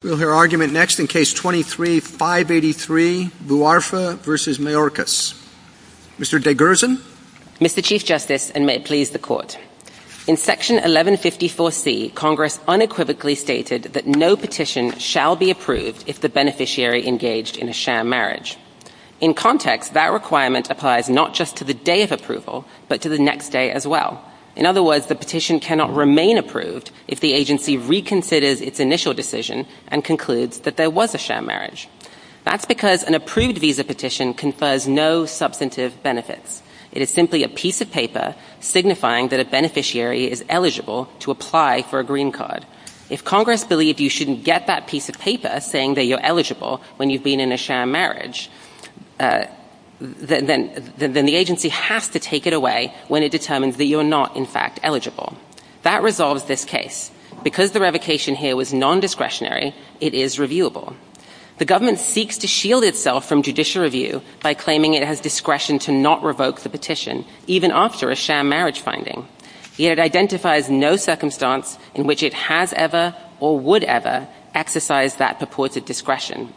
We'll hear argument next in Case 23-583, Bouarfa v. Mayorkas. Mr. DeGersen? Mr. Chief Justice, and may it please the Court, in Section 1154C, Congress unequivocally stated that no petition shall be approved if the beneficiary engaged in a sham marriage. In context, that requirement applies not just to the day of approval but to the next day as well. In other words, the petition cannot remain approved if the agency reconsiders its initial decision and concludes that there was a sham marriage. That's because an approved visa petition confers no substantive benefits. It is simply a piece of paper signifying that a beneficiary is eligible to apply for a green card. If Congress believed you shouldn't get that piece of paper saying that you're eligible when you've been in a sham marriage, then the agency has to take it away when it determines that you're not, in fact, eligible. That resolves this case. Because the revocation here was nondiscretionary, it is reviewable. The government seeks to shield itself from judicial review by claiming it has discretion to not revoke the petition, even after a sham marriage finding. Yet it identifies no circumstance in which it has ever or would ever exercise that purported discretion.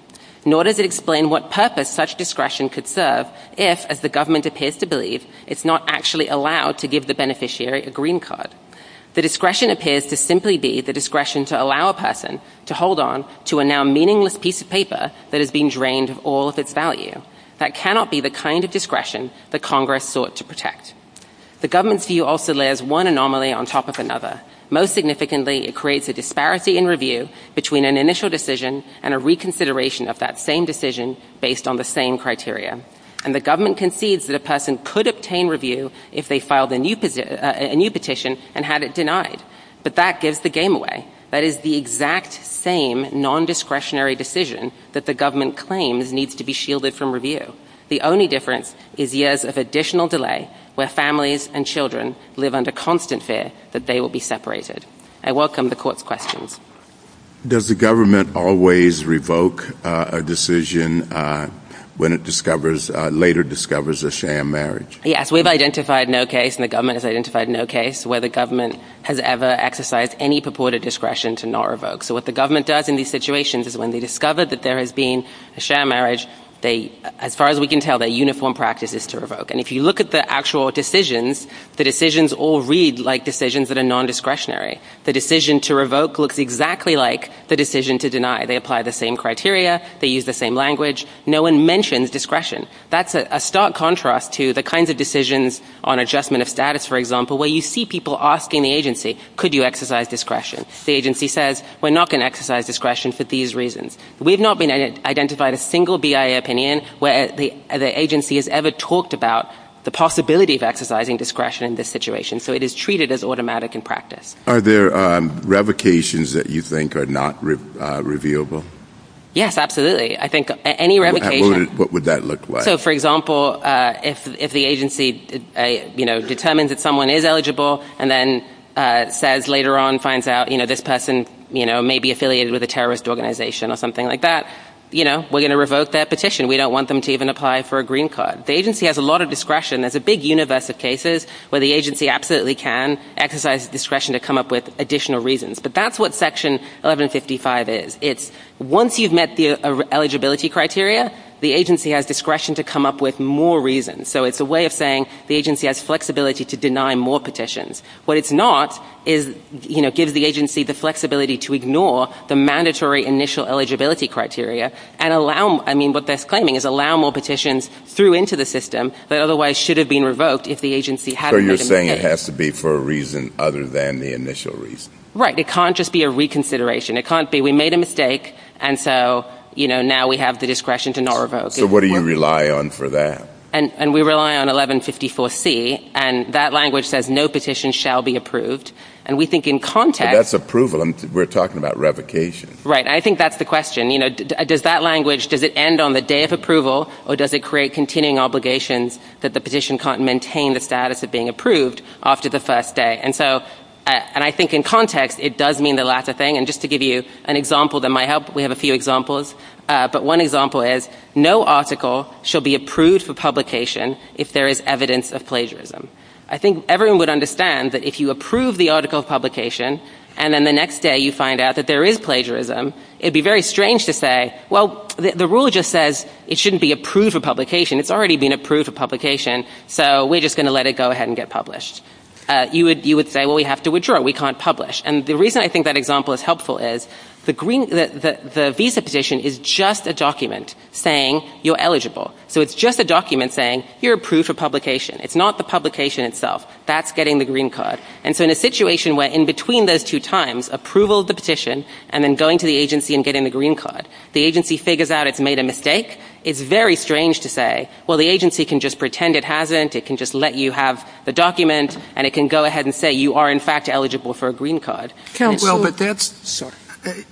Nor does it explain what purpose such discretion could serve if, as the government appears to believe, it's not actually allowed to give the beneficiary a green card. The discretion appears to simply be the discretion to allow a person to hold on to a now meaningless piece of paper that has been drained of all of its value. That cannot be the kind of discretion that Congress sought to protect. The government's view also layers one anomaly on top of another. Most significantly, it creates a disparity in review between an initial decision and a reconsideration of that same decision based on the same criteria. And the government concedes that a person could obtain review if they filed a new petition and had it denied. But that gives the game away. That is the exact same nondiscretionary decision that the government claims needs to be shielded from review. The only difference is years of additional delay where families and children live under constant fear that they will be separated. I welcome the court's questions. Does the government always revoke a decision when it discovers, later discovers, a sham marriage? Yes. We've identified no case, and the government has identified no case, where the government has ever exercised any purported discretion to not revoke. So what the government does in these situations is when they discover that there has been a sham marriage, as far as we can tell, their uniform practice is to revoke. And if you look at the actual decisions, the decisions all read like decisions that are nondiscretionary. The decision to revoke looks exactly like the decision to deny. They apply the same criteria. They use the same language. No one mentions discretion. That's a stark contrast to the kinds of decisions on adjustment of status, for example, where you see people asking the agency, could you exercise discretion? The agency says, we're not going to exercise discretion for these reasons. We've not been identified a single BIA opinion where the agency has ever talked about the possibility of exercising discretion in this situation. So it is treated as automatic in practice. Are there revocations that you think are not reviewable? Yes, absolutely. I think any revocation... What would that look like? So, for example, if the agency determines that someone is eligible and then says later on finds out this person may be affiliated with a terrorist organization or something like that, we're going to revoke that petition. We don't want them to even apply for a green card. The agency has a lot of discretion. There's a big universe of cases where the agency absolutely can exercise discretion to come up with additional reasons. But that's what Section 1155 is. It's once you've met the eligibility criteria, the agency has discretion to come up with more reasons. So it's a way of saying the agency has flexibility to deny more petitions. What it's not is, you know, gives the agency the flexibility to ignore the mandatory initial eligibility criteria and allow, I mean, what they're claiming is allow more petitions through into the system that otherwise should have been revoked if the agency had... So you're saying it has to be for a reason other than the initial reason? Right. It can't just be a reconsideration. It can't be we made a mistake and so, you know, now we have the discretion to not revoke. So what do you rely on for that? And we rely on 1154C and that language says no petition shall be approved. And we think in context... But that's approval. We're talking about revocation. Right. I think that's the question. You know, does that language, does it end on the day of approval or does it create continuing obligations that the petition can't maintain the status of being approved after the first day? And so, and I think in context, it does mean the latter thing. And just to give you an example that might help, we have a few examples, but one example is no article shall be approved for publication if there is evidence of plagiarism. I think everyone would understand that if you approve the article of publication and then the next day you find out that there is plagiarism, it'd be very strange to say, well, the rule just says it shouldn't be approved for publication. It's already been approved for publication, so we're just going to let it go ahead and get published. You would say, well, we have to withdraw. We can't publish. And the reason I think that example is helpful is the green, the visa petition is just a document saying you're eligible. So it's just a document saying you're approved for publication. It's not the publication itself. That's getting the green card. And so in a situation where in between those two times, approval of the petition and then going to the agency and getting the green card, the agency figures out it's made a mistake, it's very strange to say, well, the agency can just pretend it hasn't. It can just let you have the document, and it can go ahead and say you are, in fact, eligible for a green card. And it's so ‑‑ Well, but that's ‑‑ Sorry.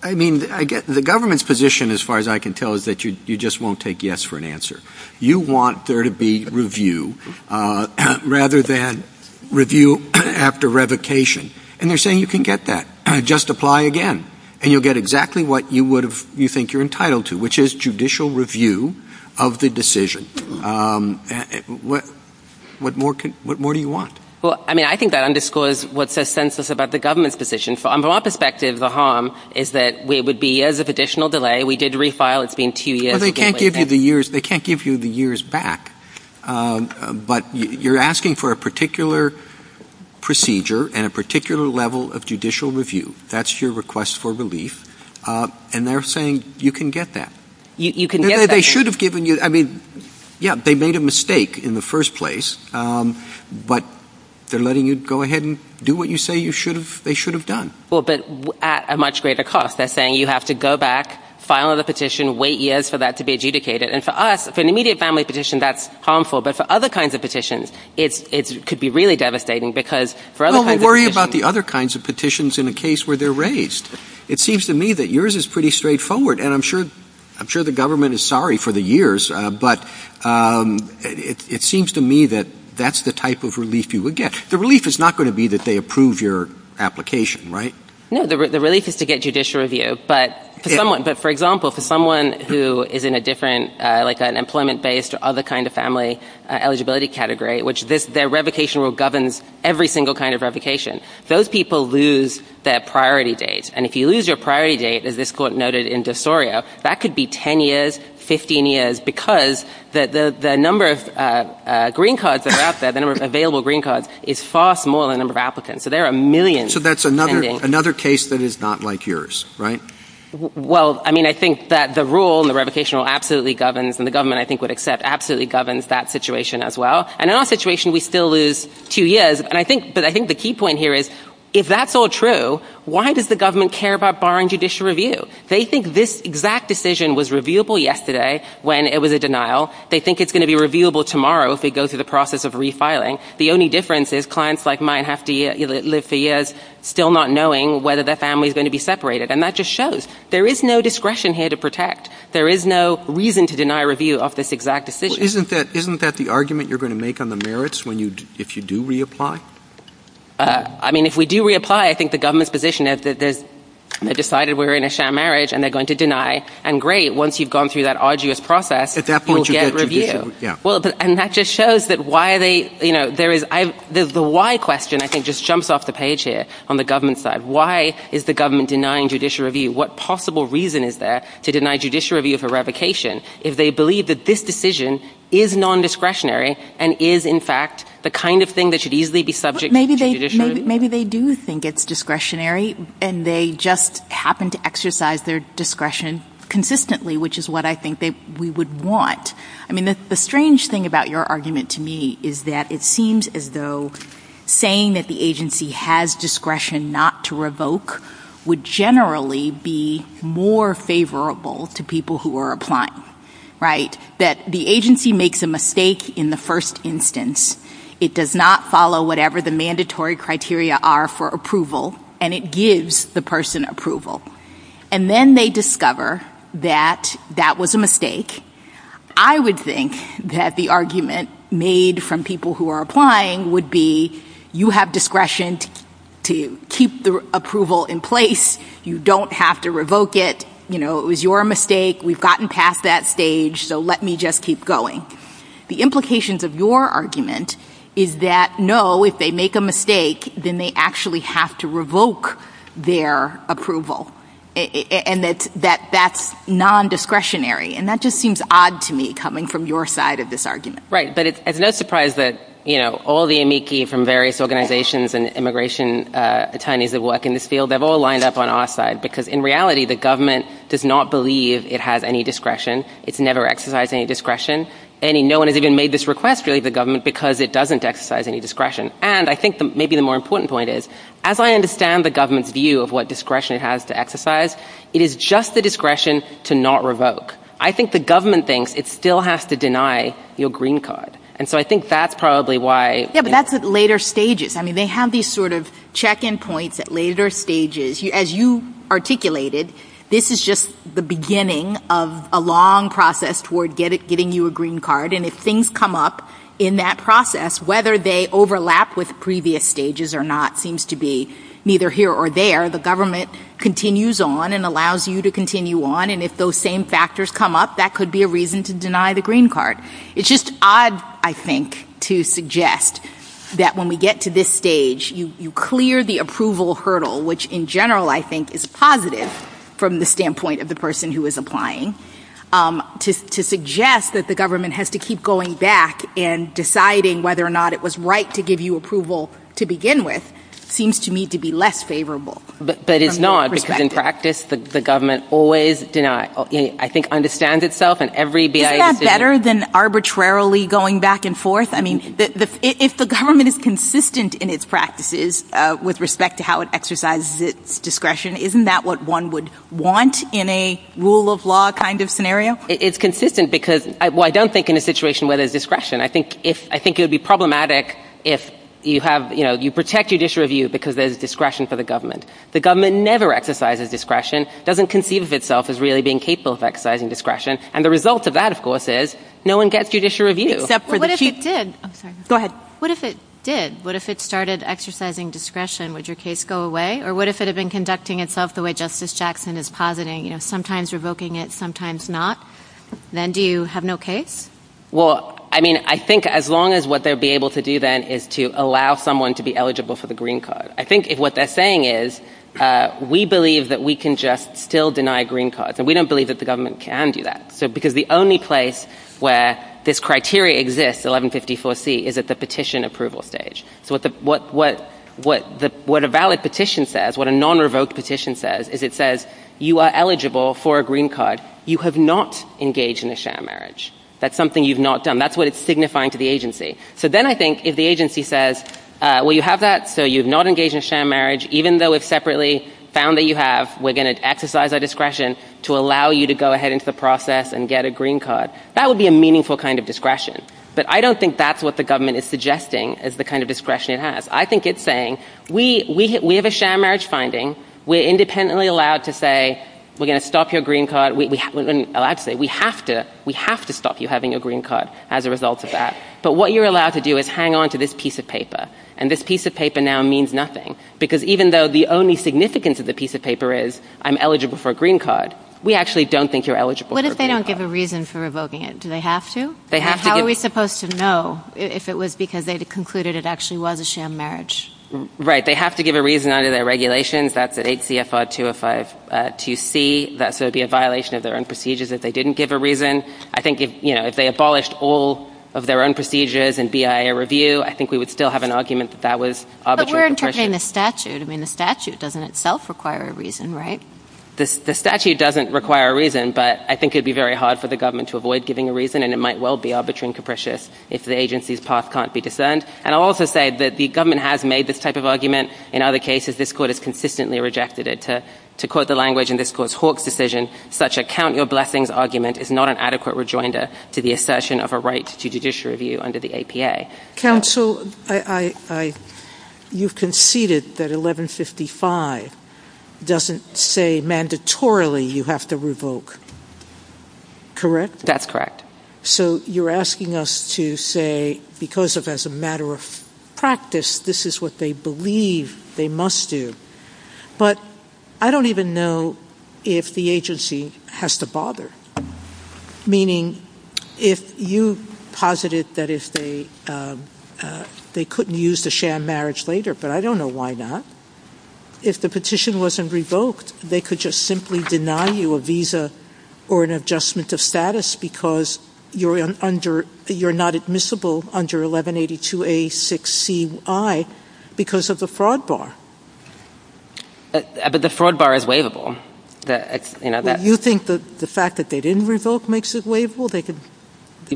I mean, I get the government's position as far as I can tell is that you just won't take yes for an answer. You want there to be review rather than review after revocation. And they're saying you can get that. Just apply again. And you'll get exactly what you would have you think you're entitled to, which is judicial review of the decision. What more do you want? Well, I mean, I think that underscores what says census about the government's position. From our perspective, the harm is that it would be as of additional delay. We did refile. It's been two years. Well, they can't give you the years. They can't give you the years back. But you're asking for a particular procedure and a particular level of judicial review. That's your request for relief. And they're saying you can get that. You can get that. They should have given you ‑‑ I mean, yeah, they made a mistake in the first place. But they're letting you go ahead and do what you say you should have ‑‑ they should have done. Well, but at a much greater cost. They're saying you have to go back, file another petition, wait years for that to be adjudicated. And for us, for an immediate family petition, that's harmful. But for other kinds of petitions, it could be really devastating because for other kinds of petitions in a case where they're raised. It seems to me that yours is pretty straightforward. And I'm sure the government is sorry for the years. But it seems to me that that's the type of relief you would get. The relief is not going to be that they approve your application, right? No, the relief is to get judicial review. But for someone, for example, for someone who is in a different, like an employment‑based or other kind of family eligibility category, which their revocation rule governs every single kind of revocation, those people lose their priority date. And if you lose your priority date, as this Court noted in DeSorio, that could be 10 years, 15 years, because the number of green cards that are out there, the number of available green cards, is far smaller than the number of applicants. So there are millions attending. So that's another case that is not like yours, right? Well, I mean, I think that the rule, the revocation rule absolutely governs, and the government I think would accept, absolutely governs that situation as well. And in our situation, we still lose two years. But I think the key point here is, if that's all true, why does the government care about barring judicial review? They think this exact decision was reviewable yesterday when it was a denial. They think it's going to be reviewable tomorrow if we go through the process of refiling. The only difference is clients like mine have to live for years still not knowing whether their family is going to be separated. And that just shows there is no discretion here to protect. There is no reason to deny review of this exact decision. Well, isn't that the argument you're going to make on the merits if you do reapply? I mean, if we do reapply, I think the government's position is they've decided we're in a sham marriage, and they're going to deny. And great, once you've gone through that arduous process, you'll get review. At that point, you get judicial review. Yeah. Well, and that just shows that why they, you know, there is, the why question I think just jumps off the page here on the government side. Why is the government denying judicial review? What possible reason is there to deny judicial review for revocation if they believe that this decision is nondiscretionary and is, in fact, the kind of thing that should easily be subject to judicial review? Maybe they do think it's discretionary, and they just happen to exercise their discretion consistently, which is what I think we would want. I mean, the strange thing about your argument to me is that it seems as though saying that the agency has discretion not to revoke would generally be more favorable to people who are applying, right? That the agency makes a mistake in the first instance. It does not follow whatever the mandatory criteria are for approval, and it gives the person approval. And then they discover that that was a mistake. I would think that the argument made from people who are applying would be, you have discretion to keep the approval in place. You don't have to revoke it. You know, it was your mistake. We've gotten past that stage, so let me just keep going. The implications of your argument is that, no, if they make a mistake, then they actually have to revoke their approval, and that that's nondiscretionary. And that just seems odd to me coming from your side of this argument. Right. But it's no surprise that, you know, all the amici from various organizations and immigration attorneys that work in this field, they've all lined up on our side, because in reality, the government does not believe it has any discretion. It's never exercised any discretion. No one has even made this request, really, to the government, because it doesn't exercise any discretion. And I think maybe the more important point is, as I understand the government's view of what discretion it has to exercise, it is just the discretion to not revoke. I think the government thinks it still has to deny your green card. And so I think that's probably why... Yeah, but that's at later stages. I mean, they have these sort of check-in points at later stages. As you articulated, this is just the beginning of a long process toward getting you a green card. And if things come up in that process, whether they overlap with previous stages or not seems to be neither here or there. The government continues on and allows you to continue on. And if those same factors come up, that could be a reason to deny the green card. It's just odd, I think, to suggest that when we get to this stage, you clear the approval hurdle, which in general I think is positive from the standpoint of the person who is applying. To suggest that the government has to keep going back and deciding whether or not it was right to give you approval to begin with seems to me to be less favorable from that perspective. But it's not, because in practice, the government always, I think, understands itself. And every BIA... Isn't that better than arbitrarily going back and forth? I mean, if the government is consistent in its practices with respect to how it exercises its discretion, isn't that what one would want in a rule of law kind of scenario? It's consistent because... Well, I don't think in a situation where there's discretion. I think it would be problematic if you protect judicial review because there's discretion for the government. The government never exercises discretion, doesn't conceive of itself as really being capable of exercising discretion. And the result of that, of course, is no one gets judicial review. Except for the chief... Well, what if it did? I'm sorry. Go ahead. What if it did? What if it started exercising discretion? Would your case go away? Or what if it had been conducting itself the way Justice Jackson is positing, you know, sometimes revoking it, sometimes not? Then do you have no case? Well, I mean, I think as long as what they'll be able to do then is to allow someone to be eligible for the green card. I think if what they're saying is, we believe that we can just still deny green cards. And we don't believe that the government can do that. So because the only place where this criteria exists, 1154C, is at the petition approval stage. So what a valid petition says, what a non-revoked petition says, is it says, you are eligible for a green card. You have not engaged in a shared marriage. That's something you've not done. That's what it's signifying to the agency. So then I think if the agency says, well, you have that, so you've not engaged in a shared marriage, even though we've separately found that you have, we're going to exercise our discretion to allow you to go ahead into the process and get a green card. That would be a meaningful kind of discretion. But I don't think that's what the government is suggesting is the kind of discretion it has. I think it's saying, we have a shared marriage finding. We're independently allowed to say, we're going to stop your green card. We're allowed to say, we have to, we have to stop you having your green card as a result of that. But what you're allowed to do is hang on to this piece of paper. And this piece of paper now means nothing. Because even though the only significance of the piece of paper is, I'm eligible for a green card, we actually don't think you're eligible for a green card. What if they don't give a reason for revoking it? Do they have to? They have to. How are we supposed to know if it was because they'd concluded it actually was a shared marriage? Right. They have to give a reason under their regulations. That's at 8 CFR 2052C. So it'd be a violation of their own procedures if they didn't give a reason. I think if they abolished all of their own procedures in BIA review, I think we would still have an argument that that was arbitrary. But we're interpreting the statute. I mean, the statute doesn't itself require a reason, right? The statute doesn't require a reason. But I think it'd be very hard for the government to avoid giving a reason. And it might well be arbitrary and capricious if the agency's path can't be discerned. And I'll also say that the government has made this type of argument. In other cases, this court has consistently rejected it. To quote the language in this court's Hawke's decision, such a count your blessings argument is not an adequate rejoinder to the assertion of a right to judicial review under the APA. Counsel, you conceded that 1155 doesn't say mandatorily you have to revoke. Correct? That's correct. So you're asking us to say, because of as a matter of practice, this is what they believe they must do. But I don't even know if the agency has to bother. Meaning, if you posited that if they couldn't use the sham marriage later. But I don't know why not. If the petition wasn't revoked, they could just simply deny you a visa or an adjustment of status because you're not admissible under 1182A6CI because of the fraud bar. But the fraud bar is waivable. You think the fact that they didn't revoke makes it waivable?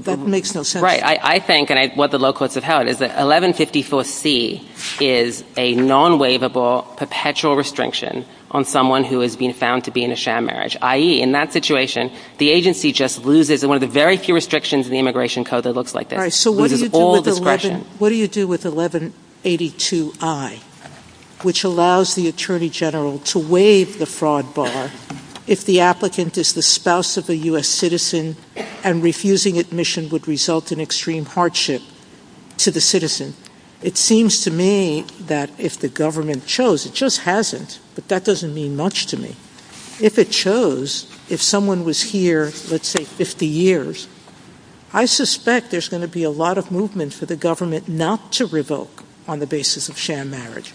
That makes no sense. Right. I think, and what the low courts have held, is that 1154C is a non-waivable perpetual restriction on someone who has been found to be in a sham marriage. I.e., in that situation, the agency just loses one of the very few restrictions in the Immigration Code that looks like this. It loses all discretion. What do you do with 1182I, which allows the Attorney General to waive the fraud bar if the applicant is the spouse of a U.S. citizen and refusing admission would result in extreme hardship to the citizen? It seems to me that if the government chose, it just hasn't, but that doesn't mean much to me. If it chose, if someone was here, let's say, 50 years, I suspect there's going to be a lot of movement for the government not to revoke on the basis of sham marriage.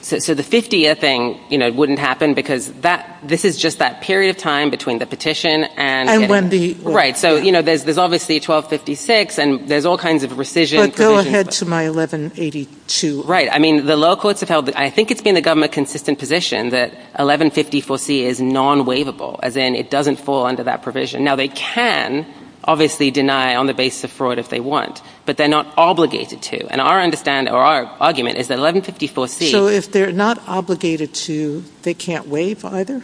So the 50-year thing wouldn't happen because this is just that period of time between the petition and... And when the... Right. So, you know, there's obviously 1256 and there's all kinds of rescission provisions. But go ahead to my 1182. Right. I mean, the low courts have held, I think it's been the government's consistent position that 1154C is non-waivable, as in, it doesn't fall under that provision. Now, they can obviously deny on the basis of fraud if they want, but they're not obligated to. And our understanding or our argument is that 1154C... So if they're not obligated to, they can't waive either?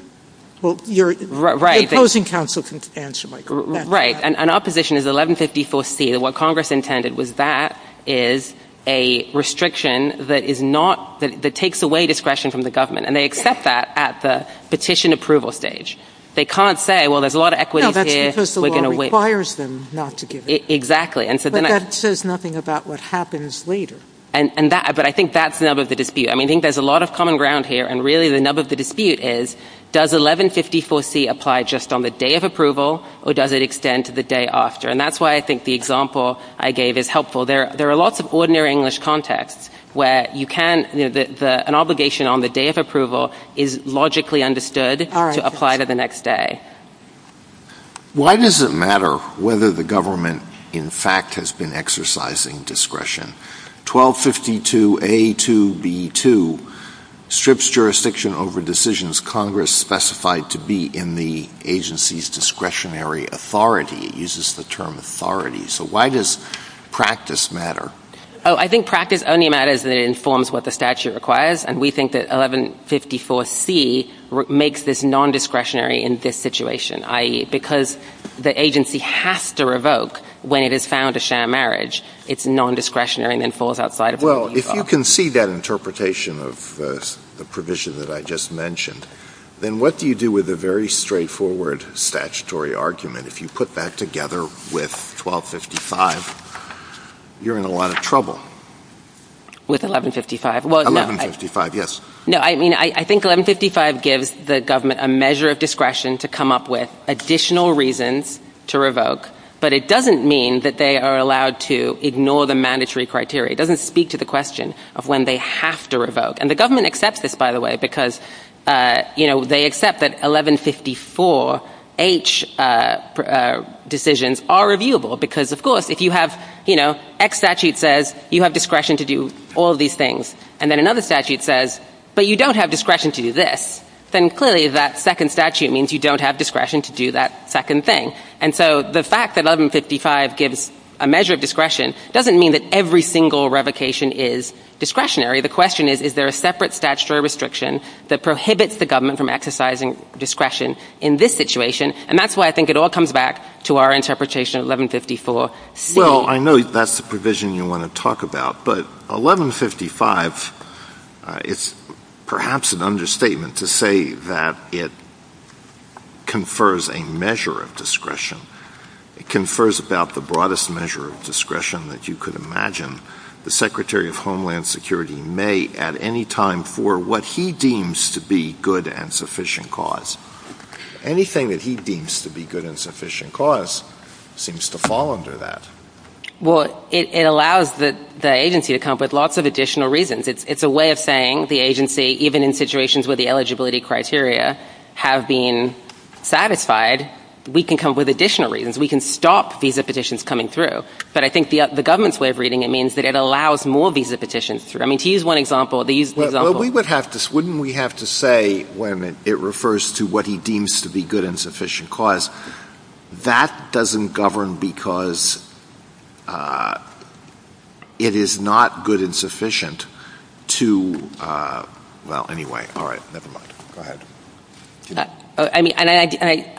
Well, your opposing counsel can answer, Michael. Right. And our position is 1154C, that what Congress intended was that is a restriction that is not, that takes away discretion from the government. And they accept that at the petition approval stage. They can't say, well, there's a lot of equities here, we're going to waive... No, that's because the law requires them not to give it. Exactly. And so then... That says nothing about what happens later. And that, but I think that's the nub of the dispute. I mean, I think there's a lot of common ground here. And really the nub of the dispute is, does 1154C apply just on the day of approval or does it extend to the day after? And that's why I think the example I gave is helpful. There are lots of ordinary English contexts where you can, an obligation on the day of approval is logically understood to apply to the next day. Why does it matter whether the government in fact has been exercising discretion? 1252A2B2 strips jurisdiction over decisions Congress specified to be in the agency's discretionary authority. It uses the term authority. So why does practice matter? Oh, I think practice only matters if it informs what the statute requires. And we think that 1154C makes this non-discretionary in this situation, i.e. because the agency has to revoke when it has found a share marriage, it's non-discretionary and then falls outside of what you've got. Well, if you can see that interpretation of the provision that I just mentioned, then what do you do with a very straightforward statutory argument? If you put that together with 1255, you're in a lot of trouble. With 1155? 1155, yes. No, I mean, I think 1155 gives the government a measure of discretion to come up with additional reasons to revoke, but it doesn't mean that they are allowed to ignore the mandatory criteria. It doesn't speak to the question of when they have to revoke. And the government accepts this, by the way, because, you know, they accept that 1154H decisions are reviewable because, of course, if you have, you know, X statute says you have discretion to do all these things, and then another statute says, but you don't have discretion to do this, then clearly that second statute means you don't have discretion to do that second thing. And so the fact that 1155 gives a measure of discretion doesn't mean that every single revocation is discretionary. The question is, is there a separate statutory restriction that prohibits the government from exercising discretion in this situation? And that's why I think it all comes back to our interpretation of 1154C. Well, I know that's the provision you want to talk about, but 1155, it's perhaps an understatement to say that it confers a measure of discretion. It confers about the broadest measure of discretion that you could imagine the Secretary of Homeland Security may at any time for what he deems to be good and sufficient cause. Anything that he deems to be good and sufficient cause seems to fall under that. Well, it allows the agency to come up with lots of additional reasons. It's a way of saying the agency, even in situations where the eligibility criteria have been satisfied, we can come up with additional reasons. We can stop visa petitions coming through. But I think the government's way of reading it means that it allows more visa petitions through. I mean, to use one example, they use the example of Well, we would have to, wouldn't we have to say, wait a minute, it refers to what he deems to be good and sufficient cause. That doesn't govern because it is not good and sufficient to, well, anyway, all right, never mind. Go ahead. I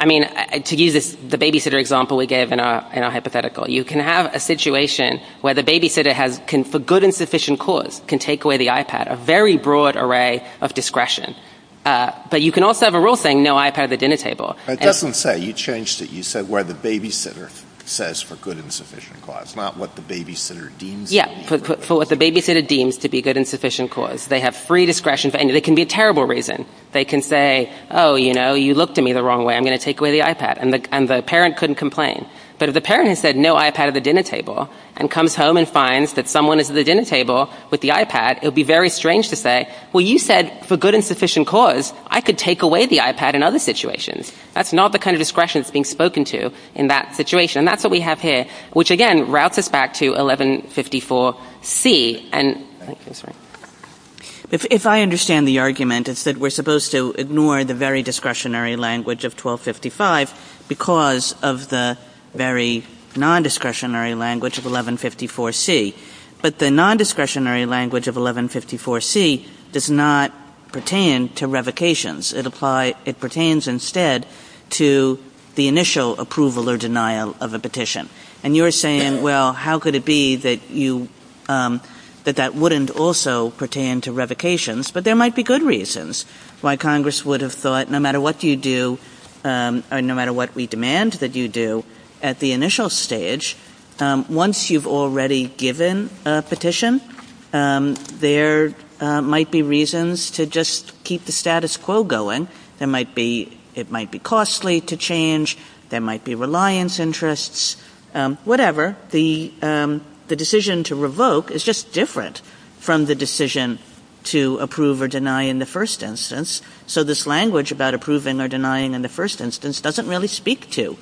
mean, to use the babysitter example we gave in our hypothetical, you can have a situation where the babysitter can, for good and sufficient cause, can take away the iPad, a very broad array of discretion. But you can also have a rule saying no iPad at the dinner table. But it doesn't say, you changed it, you said where the babysitter says for good and sufficient cause, not what the babysitter deems to be. Yeah, for what the babysitter deems to be good and sufficient cause. They have free discretion, and it can be a terrible reason. They can say, oh, you know, you looked at me the wrong way, I'm going to take away the iPad. And the parent couldn't complain. But if the parent has said no iPad at the dinner table and comes home and finds that someone is at the dinner table with the iPad, it would be very strange to say, well, you said for good and sufficient cause, I could take away the iPad in other situations. That's not the kind of discretion that's being spoken to in that situation. And that's what we have here, which, again, routes us back to 1154C. If I understand the argument, it's that we're supposed to ignore the very discretionary language of 1255 because of the very non-discretionary language of 1154C. But the non-discretionary language of 1154C does not pertain to revocations. It pertains instead to the initial approval or denial of a petition. And you're saying, well, how could it be that that wouldn't also pertain to revocations? But there might be good reasons why Congress would have thought, no matter what we demand that you do at the initial stage, once you've already given a petition, there might be reasons to just keep the status quo going. There might be, it might be costly to change. There might be reliance interests, whatever. The decision to revoke is just different from the decision to approve or deny in the first instance. So this language about approving or denying in the first instance doesn't really speak to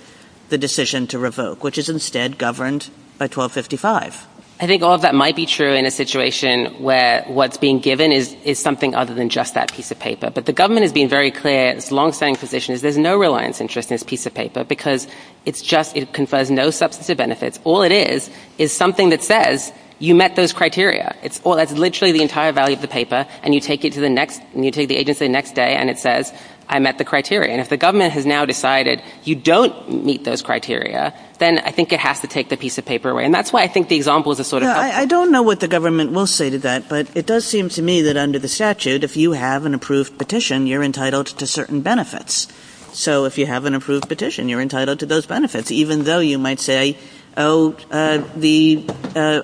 the decision to revoke, which is instead governed by 1255. I think all of that might be true in a situation where what's being given is something other than just that piece of paper. But the government has been very clear, as longstanding physicians, there's no reliance interest in this piece of paper because it's just, it confers no substantive benefits. All it is, is something that says, you met those criteria. It's all, that's literally the entire value of the paper. And you take it to the next, you take the agency the next day and it says, I met the criteria. And if the government has now decided you don't meet those criteria, then I think it has to take the piece of paper away. And that's why I think the example is a sort of helpful. I don't know what the government will say to that, but it does seem to me that under the statute, if you have an approved petition, you're entitled to certain benefits. So if you have an approved petition, you're entitled to those benefits, even though you might say, oh, the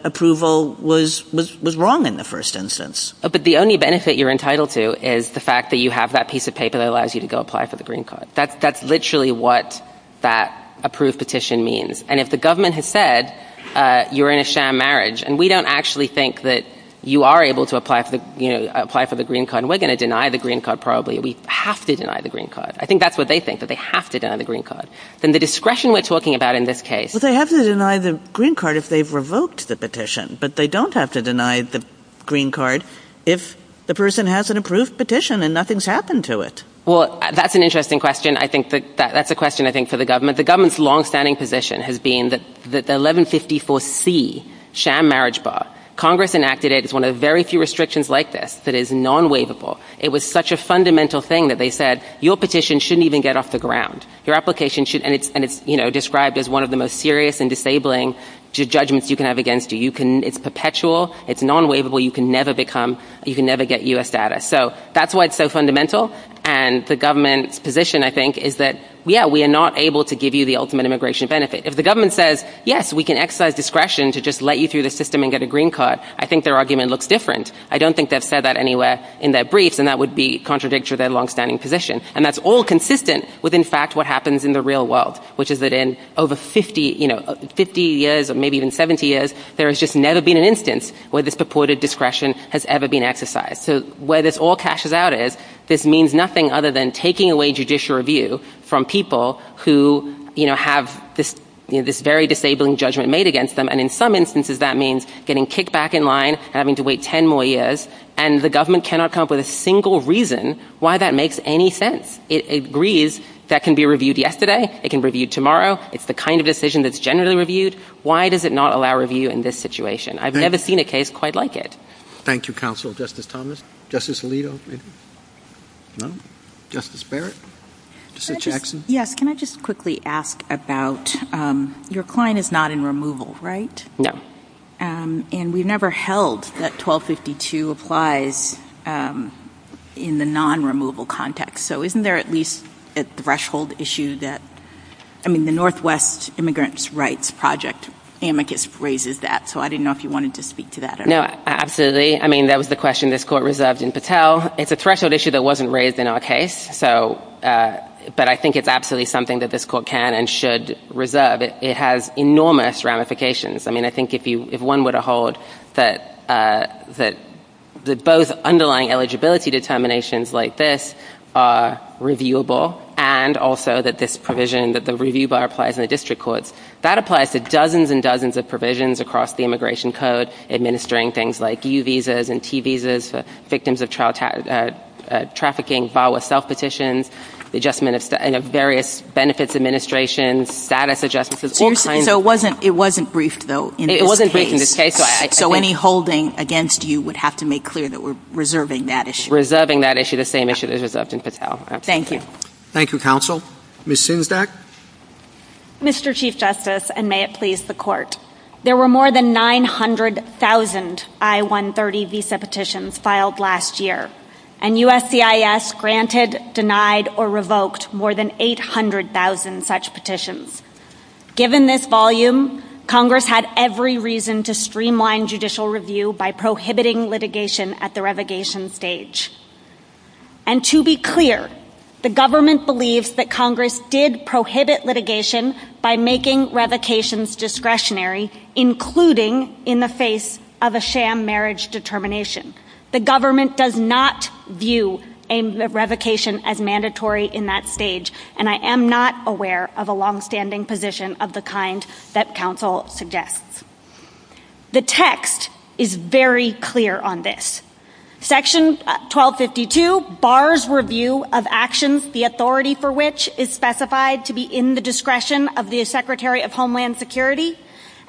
approval was, was, was wrong in the first instance. But the only benefit you're entitled to is the fact that you have that piece of paper that allows you to go apply for the green card. That's, that's literally what that approved petition means. And if the government has said, uh, you're in a sham marriage and we don't actually think that you are able to apply for the, you know, apply for the green card and we're going to deny the green card, probably we have to deny the green card. I think that's what they think, that they have to deny the green card. Then the discretion we're talking about in this case. Well, they have to deny the green card if they've revoked the petition, but they don't have to deny the green card if the person has an approved petition and nothing's happened to it. Well, that's an interesting question. I think that that's a question I think for the government, the government's longstanding position has been that the 1154C sham marriage bar, Congress enacted it. It's one of the very few restrictions like this that is non-waivable. It was such a fundamental thing that they said, your petition shouldn't even get off the ground. Your application should, and it's, and it's, you know, described as one of the most serious and disabling judgments you can have against you. You can, it's perpetual, it's non-waivable, you can never become, you can never get U.S. status. So that's why it's so fundamental. And the government's position, I think, is that, yeah, we are not able to give you the ultimate immigration benefit. If the government says, yes, we can exercise discretion to just let you through the system and get a green card, I think their argument looks different. I don't think they've said that anywhere in their briefs, and that would be contradictory to their longstanding position. And that's all consistent with, in fact, what happens in the real world, which is that in over 50, you know, 50 years, or maybe even 70 years, there has just never been an instance where this purported discretion has ever been exercised. So where this all cashes out is, this means nothing other than taking away judicial review from people who, you know, have this, you know, this very disabling judgment made against them. And in some instances, that means getting kicked back in line, having to wait 10 more years, and the government cannot come up with a single reason why that makes any sense. It agrees that can be reviewed yesterday, it can be reviewed tomorrow. It's the kind of decision that's generally reviewed. Why does it not allow review in this situation? I've never seen a case quite like it. Thank you, Counsel. Justice Thomas? Justice Alito? No? Justice Barrett? Justice Jackson? Yes. Can I just quickly ask about, your client is not in removal, right? No. And we've never held that 1252 applies in the non-removal context. So isn't there at least a threshold issue that, I mean, the Northwest Immigrants' Rights Project amicus raises that. So I didn't know if you wanted to speak to that at all. No, absolutely. I mean, that was the question this Court reserved in Patel. It's a threshold issue that wasn't raised in our case. So, but I think it's absolutely something that this Court can and should reserve. It has enormous ramifications. I mean, I think if you, if one were to hold that both underlying eligibility determinations like this are reviewable, and also that this provision, that the review bar applies in the district courts, that applies to dozens and dozens of provisions across the Immigration Code, administering things like U visas and T visas for victims of trafficking, VAWA self-petitions, the adjustment of various benefits administrations, status adjustments. So it wasn't briefed, though, in this case? It wasn't briefed in this case. So any holding against you would have to make clear that we're reserving that issue? Reserving that issue, the same issue that was reserved in Patel. Thank you. Thank you, Counsel. Ms. Sinzdak? Mr. Chief Justice, and may it please the Court, there were more than 900,000 I-130 visa petitions filed last year, and USCIS granted, denied, or revoked more than 800,000 such petitions. Given this volume, Congress had every reason to streamline judicial review by prohibiting litigation at the revocation stage. And to be clear, the government believes that Congress did prohibit litigation by making revocations discretionary, including in the face of a sham marriage determination. The government does not view a revocation as mandatory in that stage, and I am not aware of a longstanding position of the kind that Counsel suggests. The text is very clear on this. Section 1252 bars review of actions, the authority for which is specified to be in the discretion of the Secretary of Homeland Security,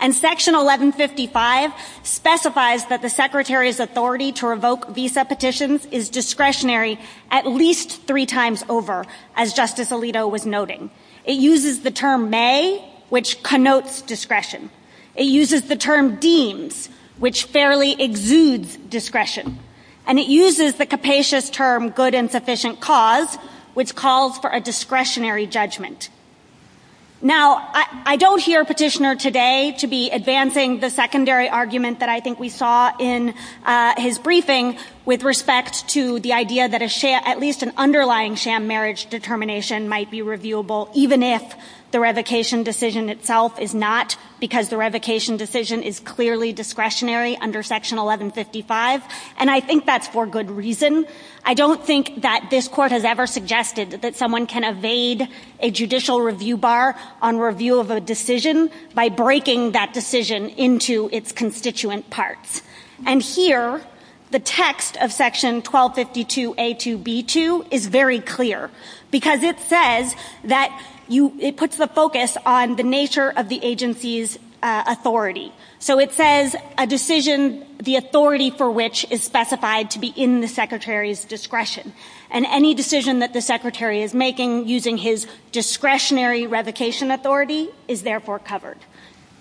and Section 1155 specifies that the Secretary's authority to revoke visa petitions is discretionary at least three times over, as Justice Alito was noting. It uses the term may, which connotes discretion. It uses the term deems, which fairly exudes discretion. And it uses the capacious term insufficient cause, which calls for a discretionary judgment. Now, I don't hear Petitioner today to be advancing the secondary argument that I think we saw in his briefing with respect to the idea that at least an underlying sham marriage determination might be reviewable, even if the revocation decision itself is not, because the revocation decision is clearly discretionary under Section 1155. And I think that's for good reason. I don't think that this Court has ever suggested that someone can evade a judicial review bar on review of a decision by breaking that decision into its constituent parts. And here, the text of Section 1252A2B2 is very clear, because it says that you, it puts the focus on the nature of the agency's authority. So it says a decision, the authority for which is specified to be in the Secretary's discretion. And any decision that the Secretary is making using his discretionary revocation authority is therefore covered.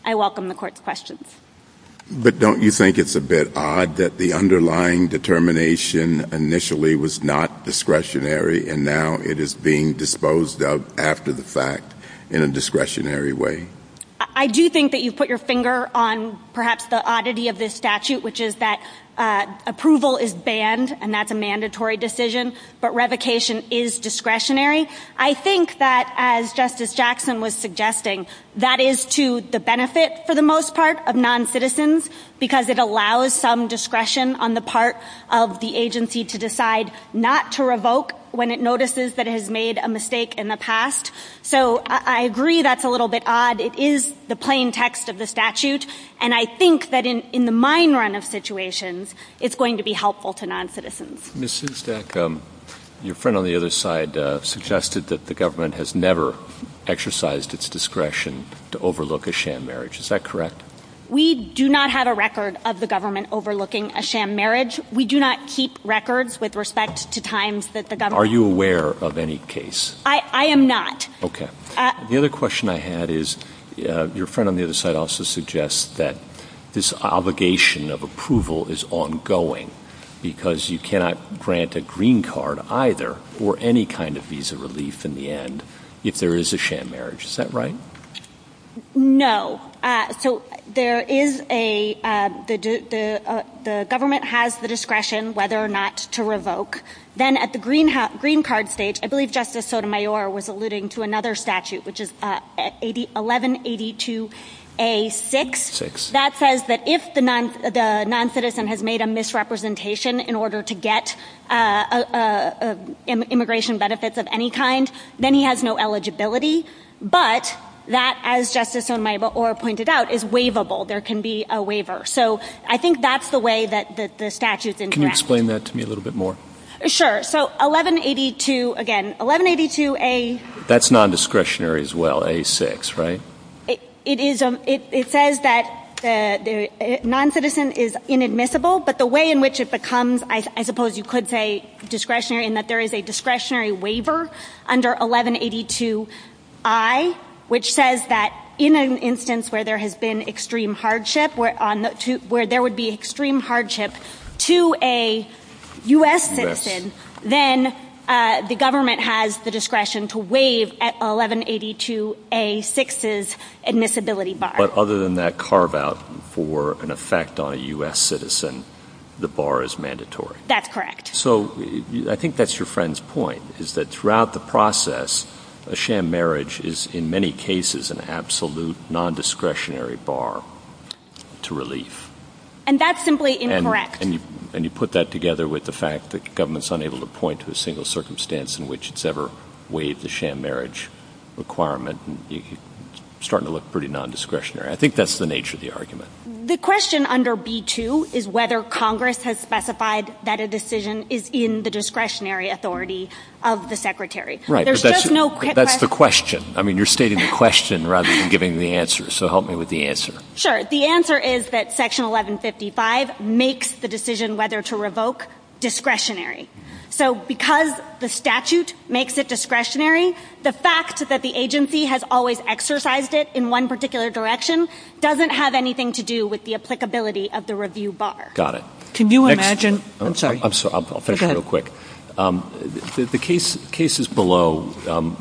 I welcome the Court's questions. But don't you think it's a bit odd that the underlying determination initially was not discretionary, and now it is being disposed of after the fact in a discretionary way? I do think that you've put your finger on perhaps the oddity of this statute, which is that approval is banned, and that's a mandatory decision, but revocation is discretionary. I think that, as Justice Jackson was suggesting, that is to the benefit, for the most part, of noncitizens, because it allows some discretion on the part of the agency to decide not to revoke when it notices that it has made a mistake in the past. So I agree that's a little bit odd. It is the plain text of the statute, and I think that in the mine run of situations, it's going to be helpful to noncitizens. Ms. Szustak, your friend on the other side suggested that the government has never exercised its discretion to overlook a sham marriage. Is that correct? We do not have a record of the government overlooking a sham marriage. We do not keep records with respect to times that the government... Are you aware of any case? I am not. Okay. The other question I had is, your friend on the other side also suggests that this obligation of approval is ongoing, because you cannot grant a green card either, or any kind of visa relief in the end, if there is a sham marriage. Is that right? No. So there is a... The government has the discretion whether or not to revoke. Then at the green card stage, I believe Justice Sotomayor was alluding to another statute, which is 1182A-6, that says that if the noncitizen has made a misrepresentation in order to get immigration benefits of any kind, then he has no eligibility. But that, as Justice Sotomayor pointed out, is waivable. There can be a waiver. So I think that's the way that the statutes interact. Can you explain that to me a little bit more? Sure. So 1182, again, 1182A... That's non-discretionary as well, A-6, right? It is... It says that the noncitizen is inadmissible, but the way in which it becomes, I suppose you could say discretionary, in that there is a discretionary waiver under 1182I, which says that in an instance where there has been extreme hardship, where there would be extreme hardship to a U.S. citizen, then the government has the discretion to waive 1182A-6's admissibility bar. But other than that carve-out for an effect on a U.S. citizen, the bar is mandatory? That's correct. So I think that's your friend's point, is that throughout the process, a sham marriage is in many cases an absolute non-discretionary bar. To relief. And that's simply incorrect. And you put that together with the fact that government's unable to point to a single circumstance in which it's ever waived the sham marriage requirement. You're starting to look pretty non-discretionary. I think that's the nature of the argument. The question under B-2 is whether Congress has specified that a decision is in the discretionary authority of the Secretary. Right, but that's the question. I mean, you're stating the question rather than giving the answer. So help me with the answer. Sure. The answer is that Section 1155 makes the decision whether to revoke discretionary. So because the statute makes it discretionary, the fact that the agency has always exercised it in one particular direction doesn't have anything to do with the applicability of the review bar. Got it. Can you imagine? I'm sorry. I'm sorry. I'll finish real quick. The cases below,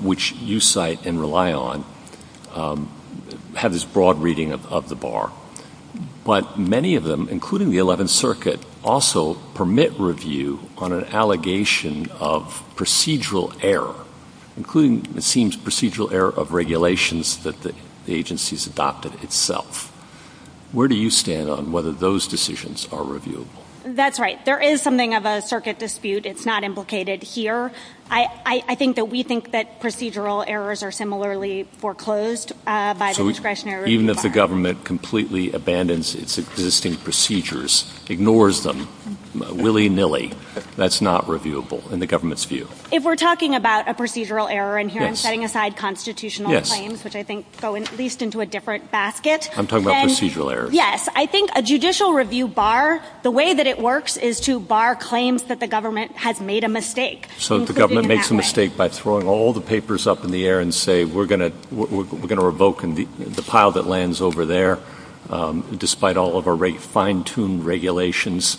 which you cite and rely on, have this broad reading of the bar. But many of them, including the 11th Circuit, also permit review on an allegation of procedural error, including, it seems, procedural error of regulations that the agency's adopted itself. Where do you stand on whether those decisions are reviewable? That's right. There is something of a circuit dispute. It's not implicated here. I think that we think that procedural errors are similarly foreclosed by the discretionary. Even if the government completely abandons its existing procedures, ignores them willy-nilly, that's not reviewable in the government's view. If we're talking about a procedural error, and here I'm setting aside constitutional claims, which I think go at least into a different basket. I'm talking about procedural errors. I think a judicial review bar, the way that it works is to bar claims that the government has made a mistake. So the government makes a mistake by throwing all the papers up in the air and say, we're going to revoke the pile that lands over there, despite all of our fine-tuned regulations.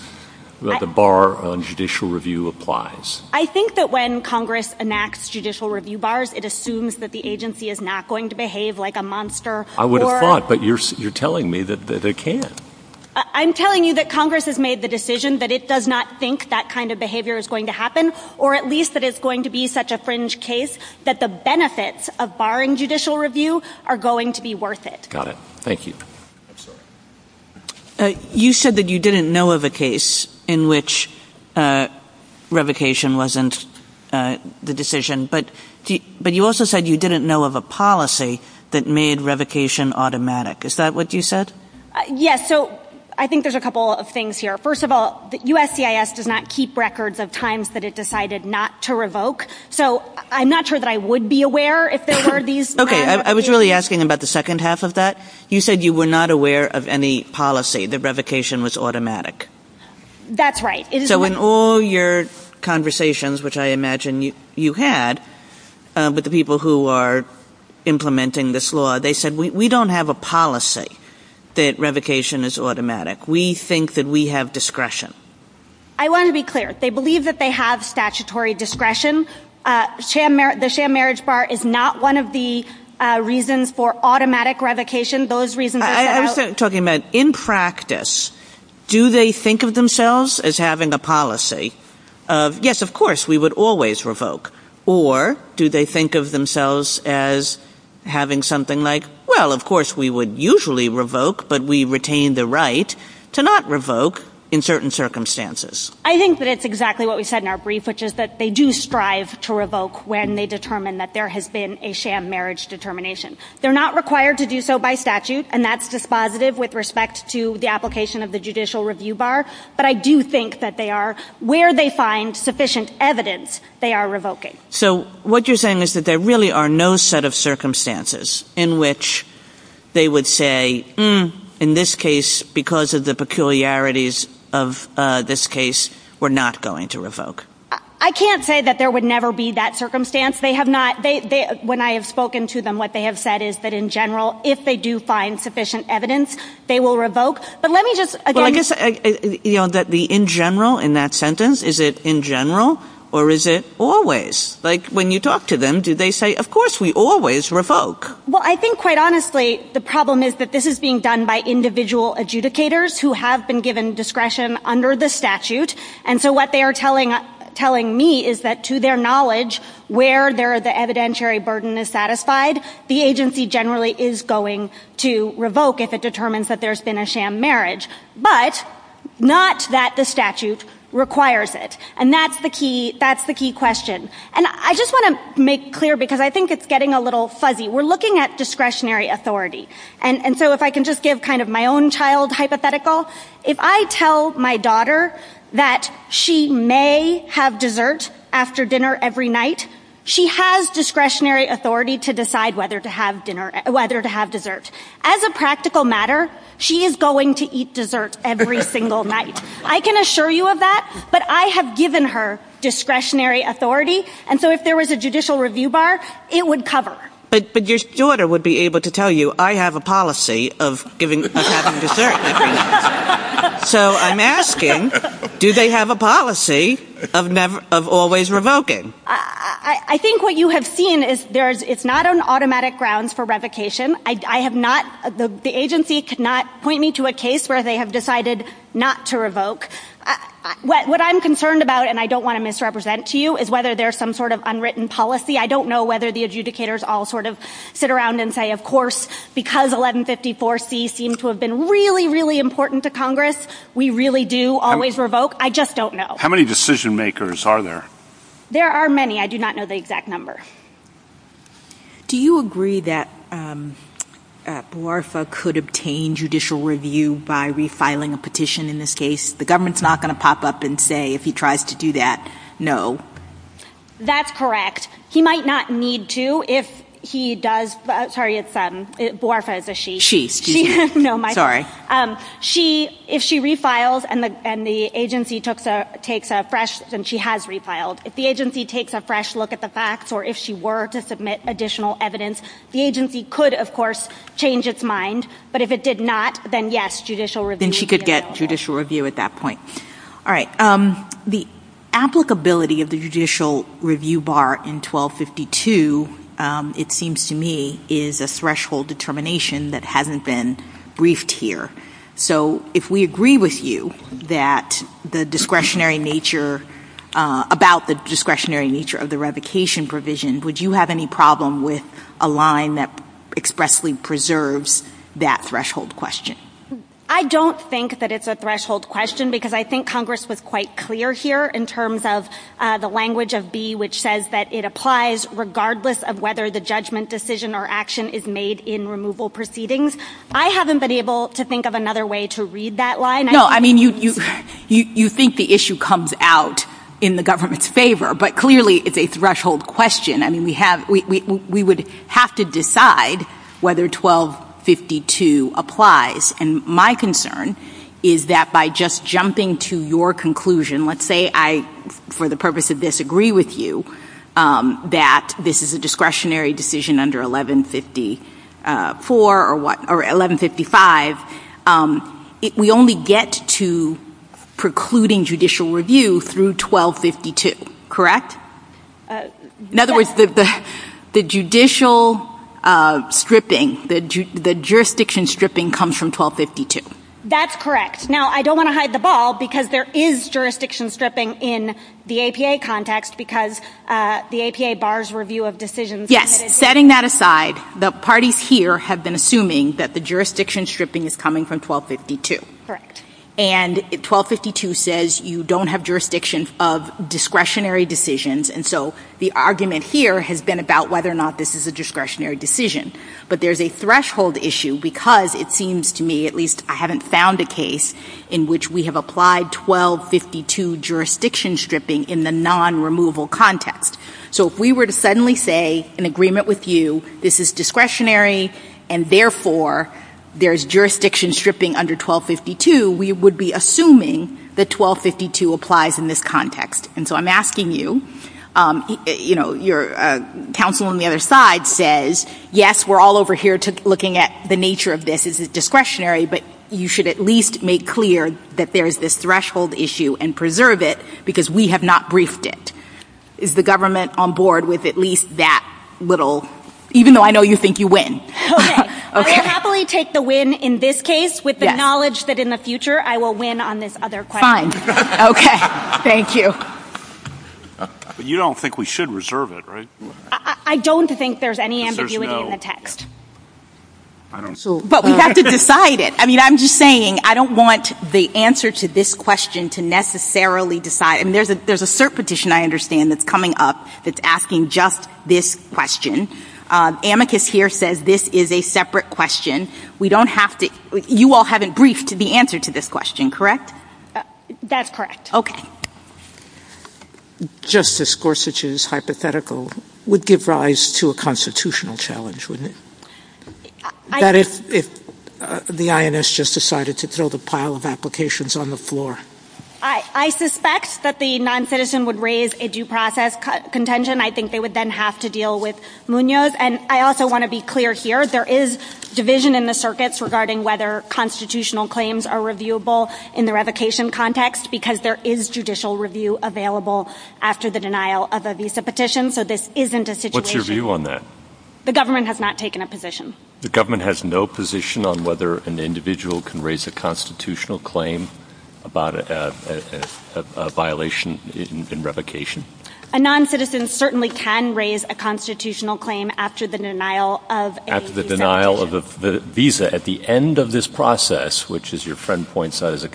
The bar on judicial review applies. I think that when Congress enacts judicial review bars, it assumes that the agency is not going to behave like a monster. I would have thought, but you're telling me that it can't. I'm telling you that Congress has made the decision that it does not think that kind of behavior is going to happen, or at least that it's going to be such a fringe case that the benefits of barring judicial review are going to be worth it. Got it. Thank you. You said that you didn't know of a case in which revocation wasn't the decision, but you also said you didn't know of a policy that made revocation automatic. Is that what you said? Yes. So I think there's a couple of things here. First of all, USCIS does not keep records of times that it decided not to revoke. So I'm not sure that I would be aware if there were these. Okay. I was really asking about the second half of that. You said you were not aware of any policy, that revocation was automatic. That's right. So in all your conversations, which I imagine you had with the people who are implementing this law, they said, we don't have a policy that revocation is automatic. We think that we have discretion. I want to be clear. They believe that they have statutory discretion. The sham marriage bar is not one of the reasons for automatic revocation. Those reasons are set out- I was talking about, in practice, do they think of themselves as having a policy of, yes, of course, we would always revoke, or do they think of themselves as having something like, well, of course, we would usually revoke, but we retain the right to not revoke in certain circumstances. I think that it's exactly what we said in our brief, which is that they do strive to revoke when they determine that there has been a sham marriage determination. They're not required to do so by statute, and that's dispositive with respect to the application of the judicial review bar. But I do think that they are, where they find sufficient evidence, they are revoking. So what you're saying is that there really are no set of circumstances in which they would say, in this case, because of the peculiarities of this case, we're not going to revoke. I can't say that there would never be that circumstance. When I have spoken to them, what they have said is that in general, if they do find sufficient evidence, they will revoke. But let me just— Well, I guess that the in general in that sentence, is it in general, or is it always? Like, when you talk to them, do they say, of course, we always revoke? Well, I think, quite honestly, the problem is that this is being done by individual adjudicators who have been given discretion under the statute. And so what they are telling me is that, to their knowledge, where the evidentiary burden is satisfied, the agency generally is going to revoke if it determines that there's been a sham marriage. But not that the statute requires it. And that's the key question. And I just want to make clear, because I think it's getting a little fuzzy, we're looking at discretionary authority. And so if I can just give kind of my own child hypothetical, if I tell my daughter that she may have dessert after dinner every night, she has discretionary authority to decide whether to have dessert. As a practical matter, she is going to eat dessert every single night. I can assure you of that. But I have given her discretionary authority. And so if there was a judicial review bar, it would cover. But your daughter would be able to tell you, I have a policy of having dessert every night. So I'm asking, do they have a policy of always revoking? I think what you have seen is it's not on automatic grounds for revocation. The agency could not point me to a case where they have decided not to revoke. What I'm concerned about, and I don't want to misrepresent to you, is whether there's some sort of unwritten policy. I don't know whether the adjudicators all sort of sit around and say, of course, because 1154C seemed to have been really, really important to Congress, we really do always revoke. I just don't know. How many decision makers are there? There are many. I do not know the exact number. Do you agree that Boarfa could obtain judicial review by refiling a petition in this case? The government's not going to pop up and say, if he tries to do that, no. That's correct. He might not need to if he does. Sorry, it's Boarfa is a she. She, excuse me. No, my. She, if she refiles and the agency takes a fresh, and she has refiled, if the agency takes a fresh look at the facts or if she were to submit additional evidence, the agency could, of course, change its mind. But if it did not, then yes, judicial review. Then she could get judicial review at that point. All right. The applicability of the judicial So if we agree with you that the discretionary nature, about the discretionary nature of the revocation provision, would you have any problem with a line that expressly preserves that threshold question? I don't think that it's a threshold question because I think Congress was quite clear here in terms of the language of B, which says that it applies regardless of whether the judgment decision or action is made in removal proceedings. I haven't been able to think of another way to read that line. No, I mean, you, you, you, you think the issue comes out in the government's favor, but clearly it's a threshold question. I mean, we have, we, we, we would have to decide whether 1252 applies. And my concern is that by just jumping to your conclusion, let's say I, for the purpose of this, agree with you that this is a discretionary decision under 1154 or what, or 1155, we only get to precluding judicial review through 1252, correct? In other words, the, the, the judicial stripping, the jurisdiction stripping comes from 1252. That's correct. Now, I don't want to hide the ball because there is jurisdiction stripping in the APA context because the APA bars review of decisions. Yes. Setting that aside, the parties here have been assuming that the jurisdiction stripping is coming from 1252. Correct. And 1252 says you don't have jurisdiction of discretionary decisions. And so the argument here has been about whether or not this is a discretionary decision, but there's a threshold issue because it seems to me, at least I haven't found a case in which we have applied 1252 jurisdiction stripping in the non-removal context. So if we were to suddenly say in agreement with you, this is discretionary and therefore there's jurisdiction stripping under 1252, we would be assuming that 1252 applies in this context. And so I'm asking you, you know, your counsel on the other side says, yes, we're all over here looking at the nature of this is discretionary, but you should at least make clear that there's this threshold issue and preserve it because we have not briefed it. Is the government on board with at least that little, even though I know you think you win. Okay. I will happily take the win in this case with the knowledge that in the future I will win on this other question. Fine. Okay. Thank you. But you don't think we should reserve it, right? I don't think there's any ambiguity in the text. But we have to decide it. I mean, I'm just saying I don't want the answer to this question to necessarily decide. I mean, there's a cert petition I understand that's coming up that's asking just this question. Amicus here says this is a separate question. We don't have to, you all haven't briefed the answer to this question, correct? That's correct. Okay. Justice Gorsuch's hypothetical would give rise to a constitutional challenge, wouldn't it? That if the INS just decided to throw the pile of applications on the floor. I suspect that the non-citizen would raise a due process contention. I think they would then have to deal with Munoz. And I also want to be clear here, there is division in the circuits regarding whether constitutional claims are reviewable in the revocation context, because there is judicial review available after the denial of a visa petition. So this isn't a situation... What's your view on that? The government has not taken a position. The government has no position on whether an individual can raise a constitutional claim about a violation in revocation? A non-citizen certainly can raise a constitutional claim after the denial of a visa petition. After the denial of a visa at the end of this process, which as your friend points out is a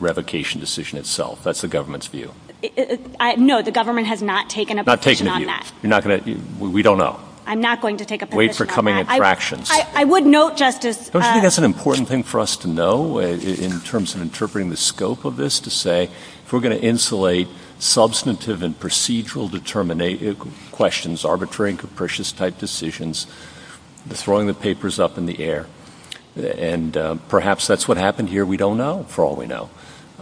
revocation decision itself. That's the government's view. No, the government has not taken a position on that. Not taken a view. You're not going to... We don't know. I'm not going to take a position on that. Wait for coming attractions. I would note, Justice... Don't you think that's an important thing for us to know in terms of interpreting the scope of this to say if we're going to insulate substantive and procedural questions, arbitrary and capricious type decisions, throwing the papers up in the air. And perhaps that's what happened here. We don't for all we know.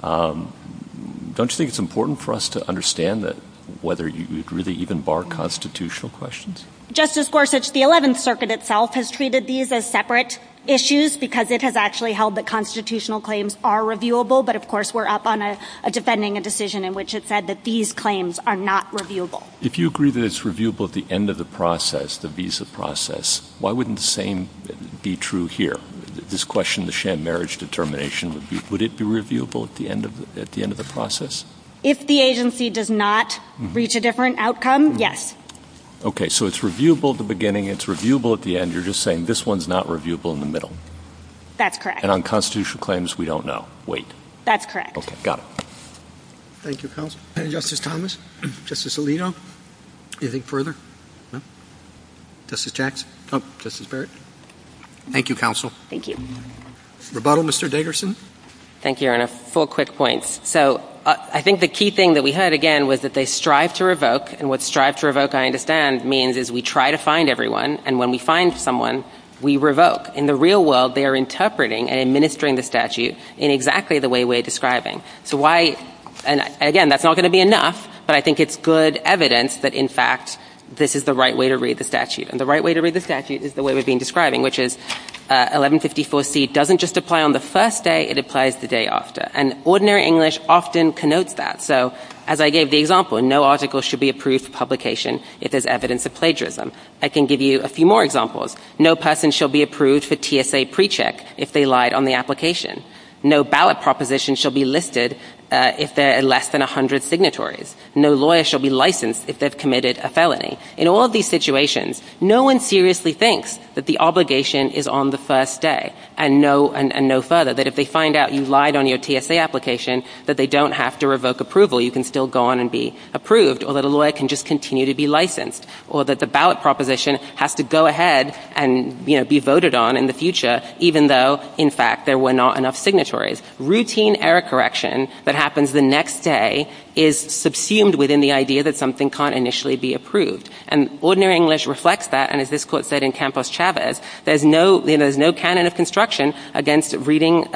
Don't you think it's important for us to understand that whether you'd really even bar constitutional questions? Justice Gorsuch, the 11th Circuit itself has treated these as separate issues because it has actually held that constitutional claims are reviewable. But of course, we're up on a defending a decision in which it said that these claims are not reviewable. If you agree that it's reviewable at the end of the process, the visa process, why wouldn't the same be true here? This question, the sham marriage determination, would it be reviewable at the end of the process? If the agency does not reach a different outcome, yes. Okay. So it's reviewable at the beginning. It's reviewable at the end. You're just saying this one's not reviewable in the middle. That's correct. And on constitutional claims, we don't know. Wait. That's correct. Okay. Got it. Thank you, counsel. Justice Thomas. Justice Alito. Anything further? No. Justice Jackson. Oh, Justice Barrett. Thank you, counsel. Thank you. Rebuttal, Mr. Dagerson. Thank you, Your Honor. Four quick points. So I think the key thing that we heard, again, was that they strive to revoke. And what strive to revoke, I understand, means is we try to find everyone. And when we find someone, we revoke. In the real world, they are interpreting and administering the statute in exactly the way we're describing. So why? And again, that's not going to be enough. But I think it's good evidence that, in fact, this is the right way to read the statute. And the right way to read the statute is the way we've been describing, which is 1154C doesn't just apply on the first day. It applies the day after. And ordinary English often connotes that. So as I gave the example, no article should be approved for publication if there's evidence of plagiarism. I can give you a few more examples. No person shall be approved for TSA pre-check if they lied on the application. No ballot proposition shall be listed if there are less than 100 signatories. No lawyer shall be licensed if they've In all of these situations, no one seriously thinks that the obligation is on the first day and no further. That if they find out you lied on your TSA application, that they don't have to revoke approval. You can still go on and be approved. Or that a lawyer can just continue to be licensed. Or that the ballot proposition has to go ahead and be voted on in the future, even though, in fact, there were not enough signatories. Routine error correction that happens the next day is subsumed within the idea that something can't initially be approved. And ordinary English reflects that. And as this court said in Campos Chavez, there's no canon of construction against reading,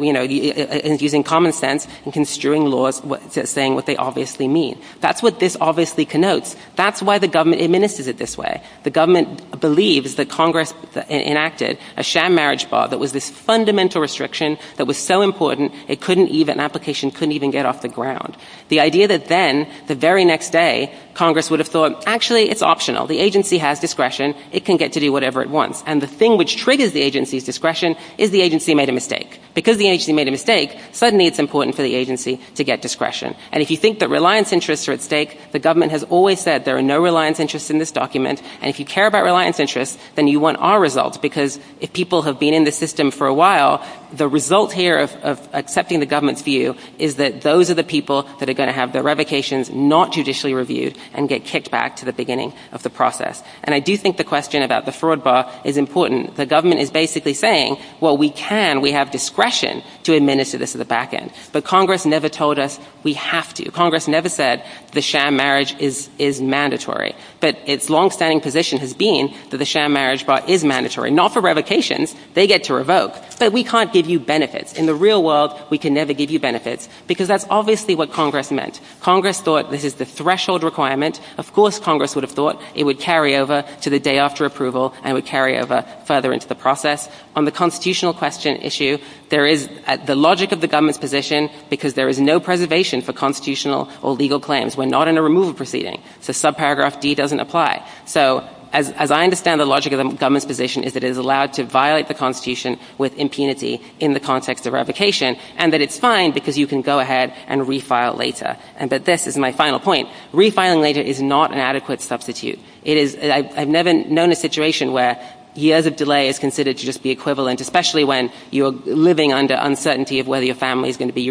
using common sense and construing laws saying what they obviously mean. That's what this obviously connotes. That's why the government administers it this way. The government believes that Congress enacted a sham marriage bar that was this fundamental restriction that was so important, an application couldn't even get off the ground. The idea that then, the very next day, Congress would have thought, actually, it's optional. The agency has discretion. It can get to do whatever it wants. And the thing which triggers the agency's discretion is the agency made a mistake. Because the agency made a mistake, suddenly it's important for the agency to get discretion. And if you think that reliance interests are at stake, the government has always said there are no reliance interests in this document. And if you care about reliance interests, then you want our results. Because if people have been in the system for a while, the result here of accepting the government's view is that those are the people that are going to have their revocations not judicially reviewed and get kicked back to the beginning of the process. And I do think the question about the fraud bar is important. The government is basically saying, well, we can, we have discretion to administer this at the back end. But Congress never told us we have to. Congress never said the sham marriage is mandatory. But its longstanding position has been that the sham marriage bar is mandatory, not for revocations. They get to revoke. But we can't give you benefits. In the real world, we can never give you benefits. Because that's obviously what Congress meant. Congress thought this is the threshold requirement. Of course Congress would have thought it would carry over to the day after approval and would carry over further into the process. On the constitutional question issue, there is the logic of the government's position because there is no preservation for constitutional or legal claims. We're not in a removal proceeding. So subparagraph D doesn't apply. So as I understand the logic of the government's position is that it is allowed to violate the Constitution with impunity in the context of revocation and that it's fine because you can go ahead and refile later. But this is my final point. Refiling later is not an adequate substitute. It is, I've never known a situation where years of delay is considered to just be equivalent, especially when you're living under uncertainty of whether your family is going to be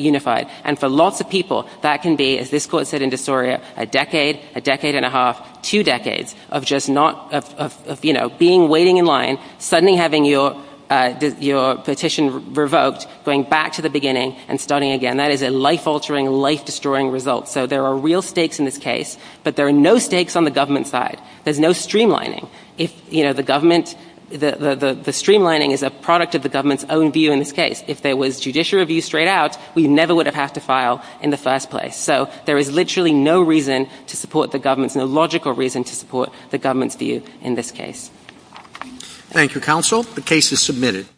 unified. And for lots of people, that can be, as this Court said in De Soria, a decade, a decade and a half, two decades of just not, of, you know, being, waiting in line, suddenly having your petition revoked, going back to the beginning and starting again. That is a life-altering, life-destroying result. So there are real stakes in this case, but there are no stakes on the government side. There's no streamlining. If, you know, the government, the streamlining is a product of the government's own view in this case. If there was judicial review straight out, we never would have had to file in the first place. So there is literally no reason to support the government, no logical reason to support the government's view in this case. Thank you, Counsel. The case is submitted.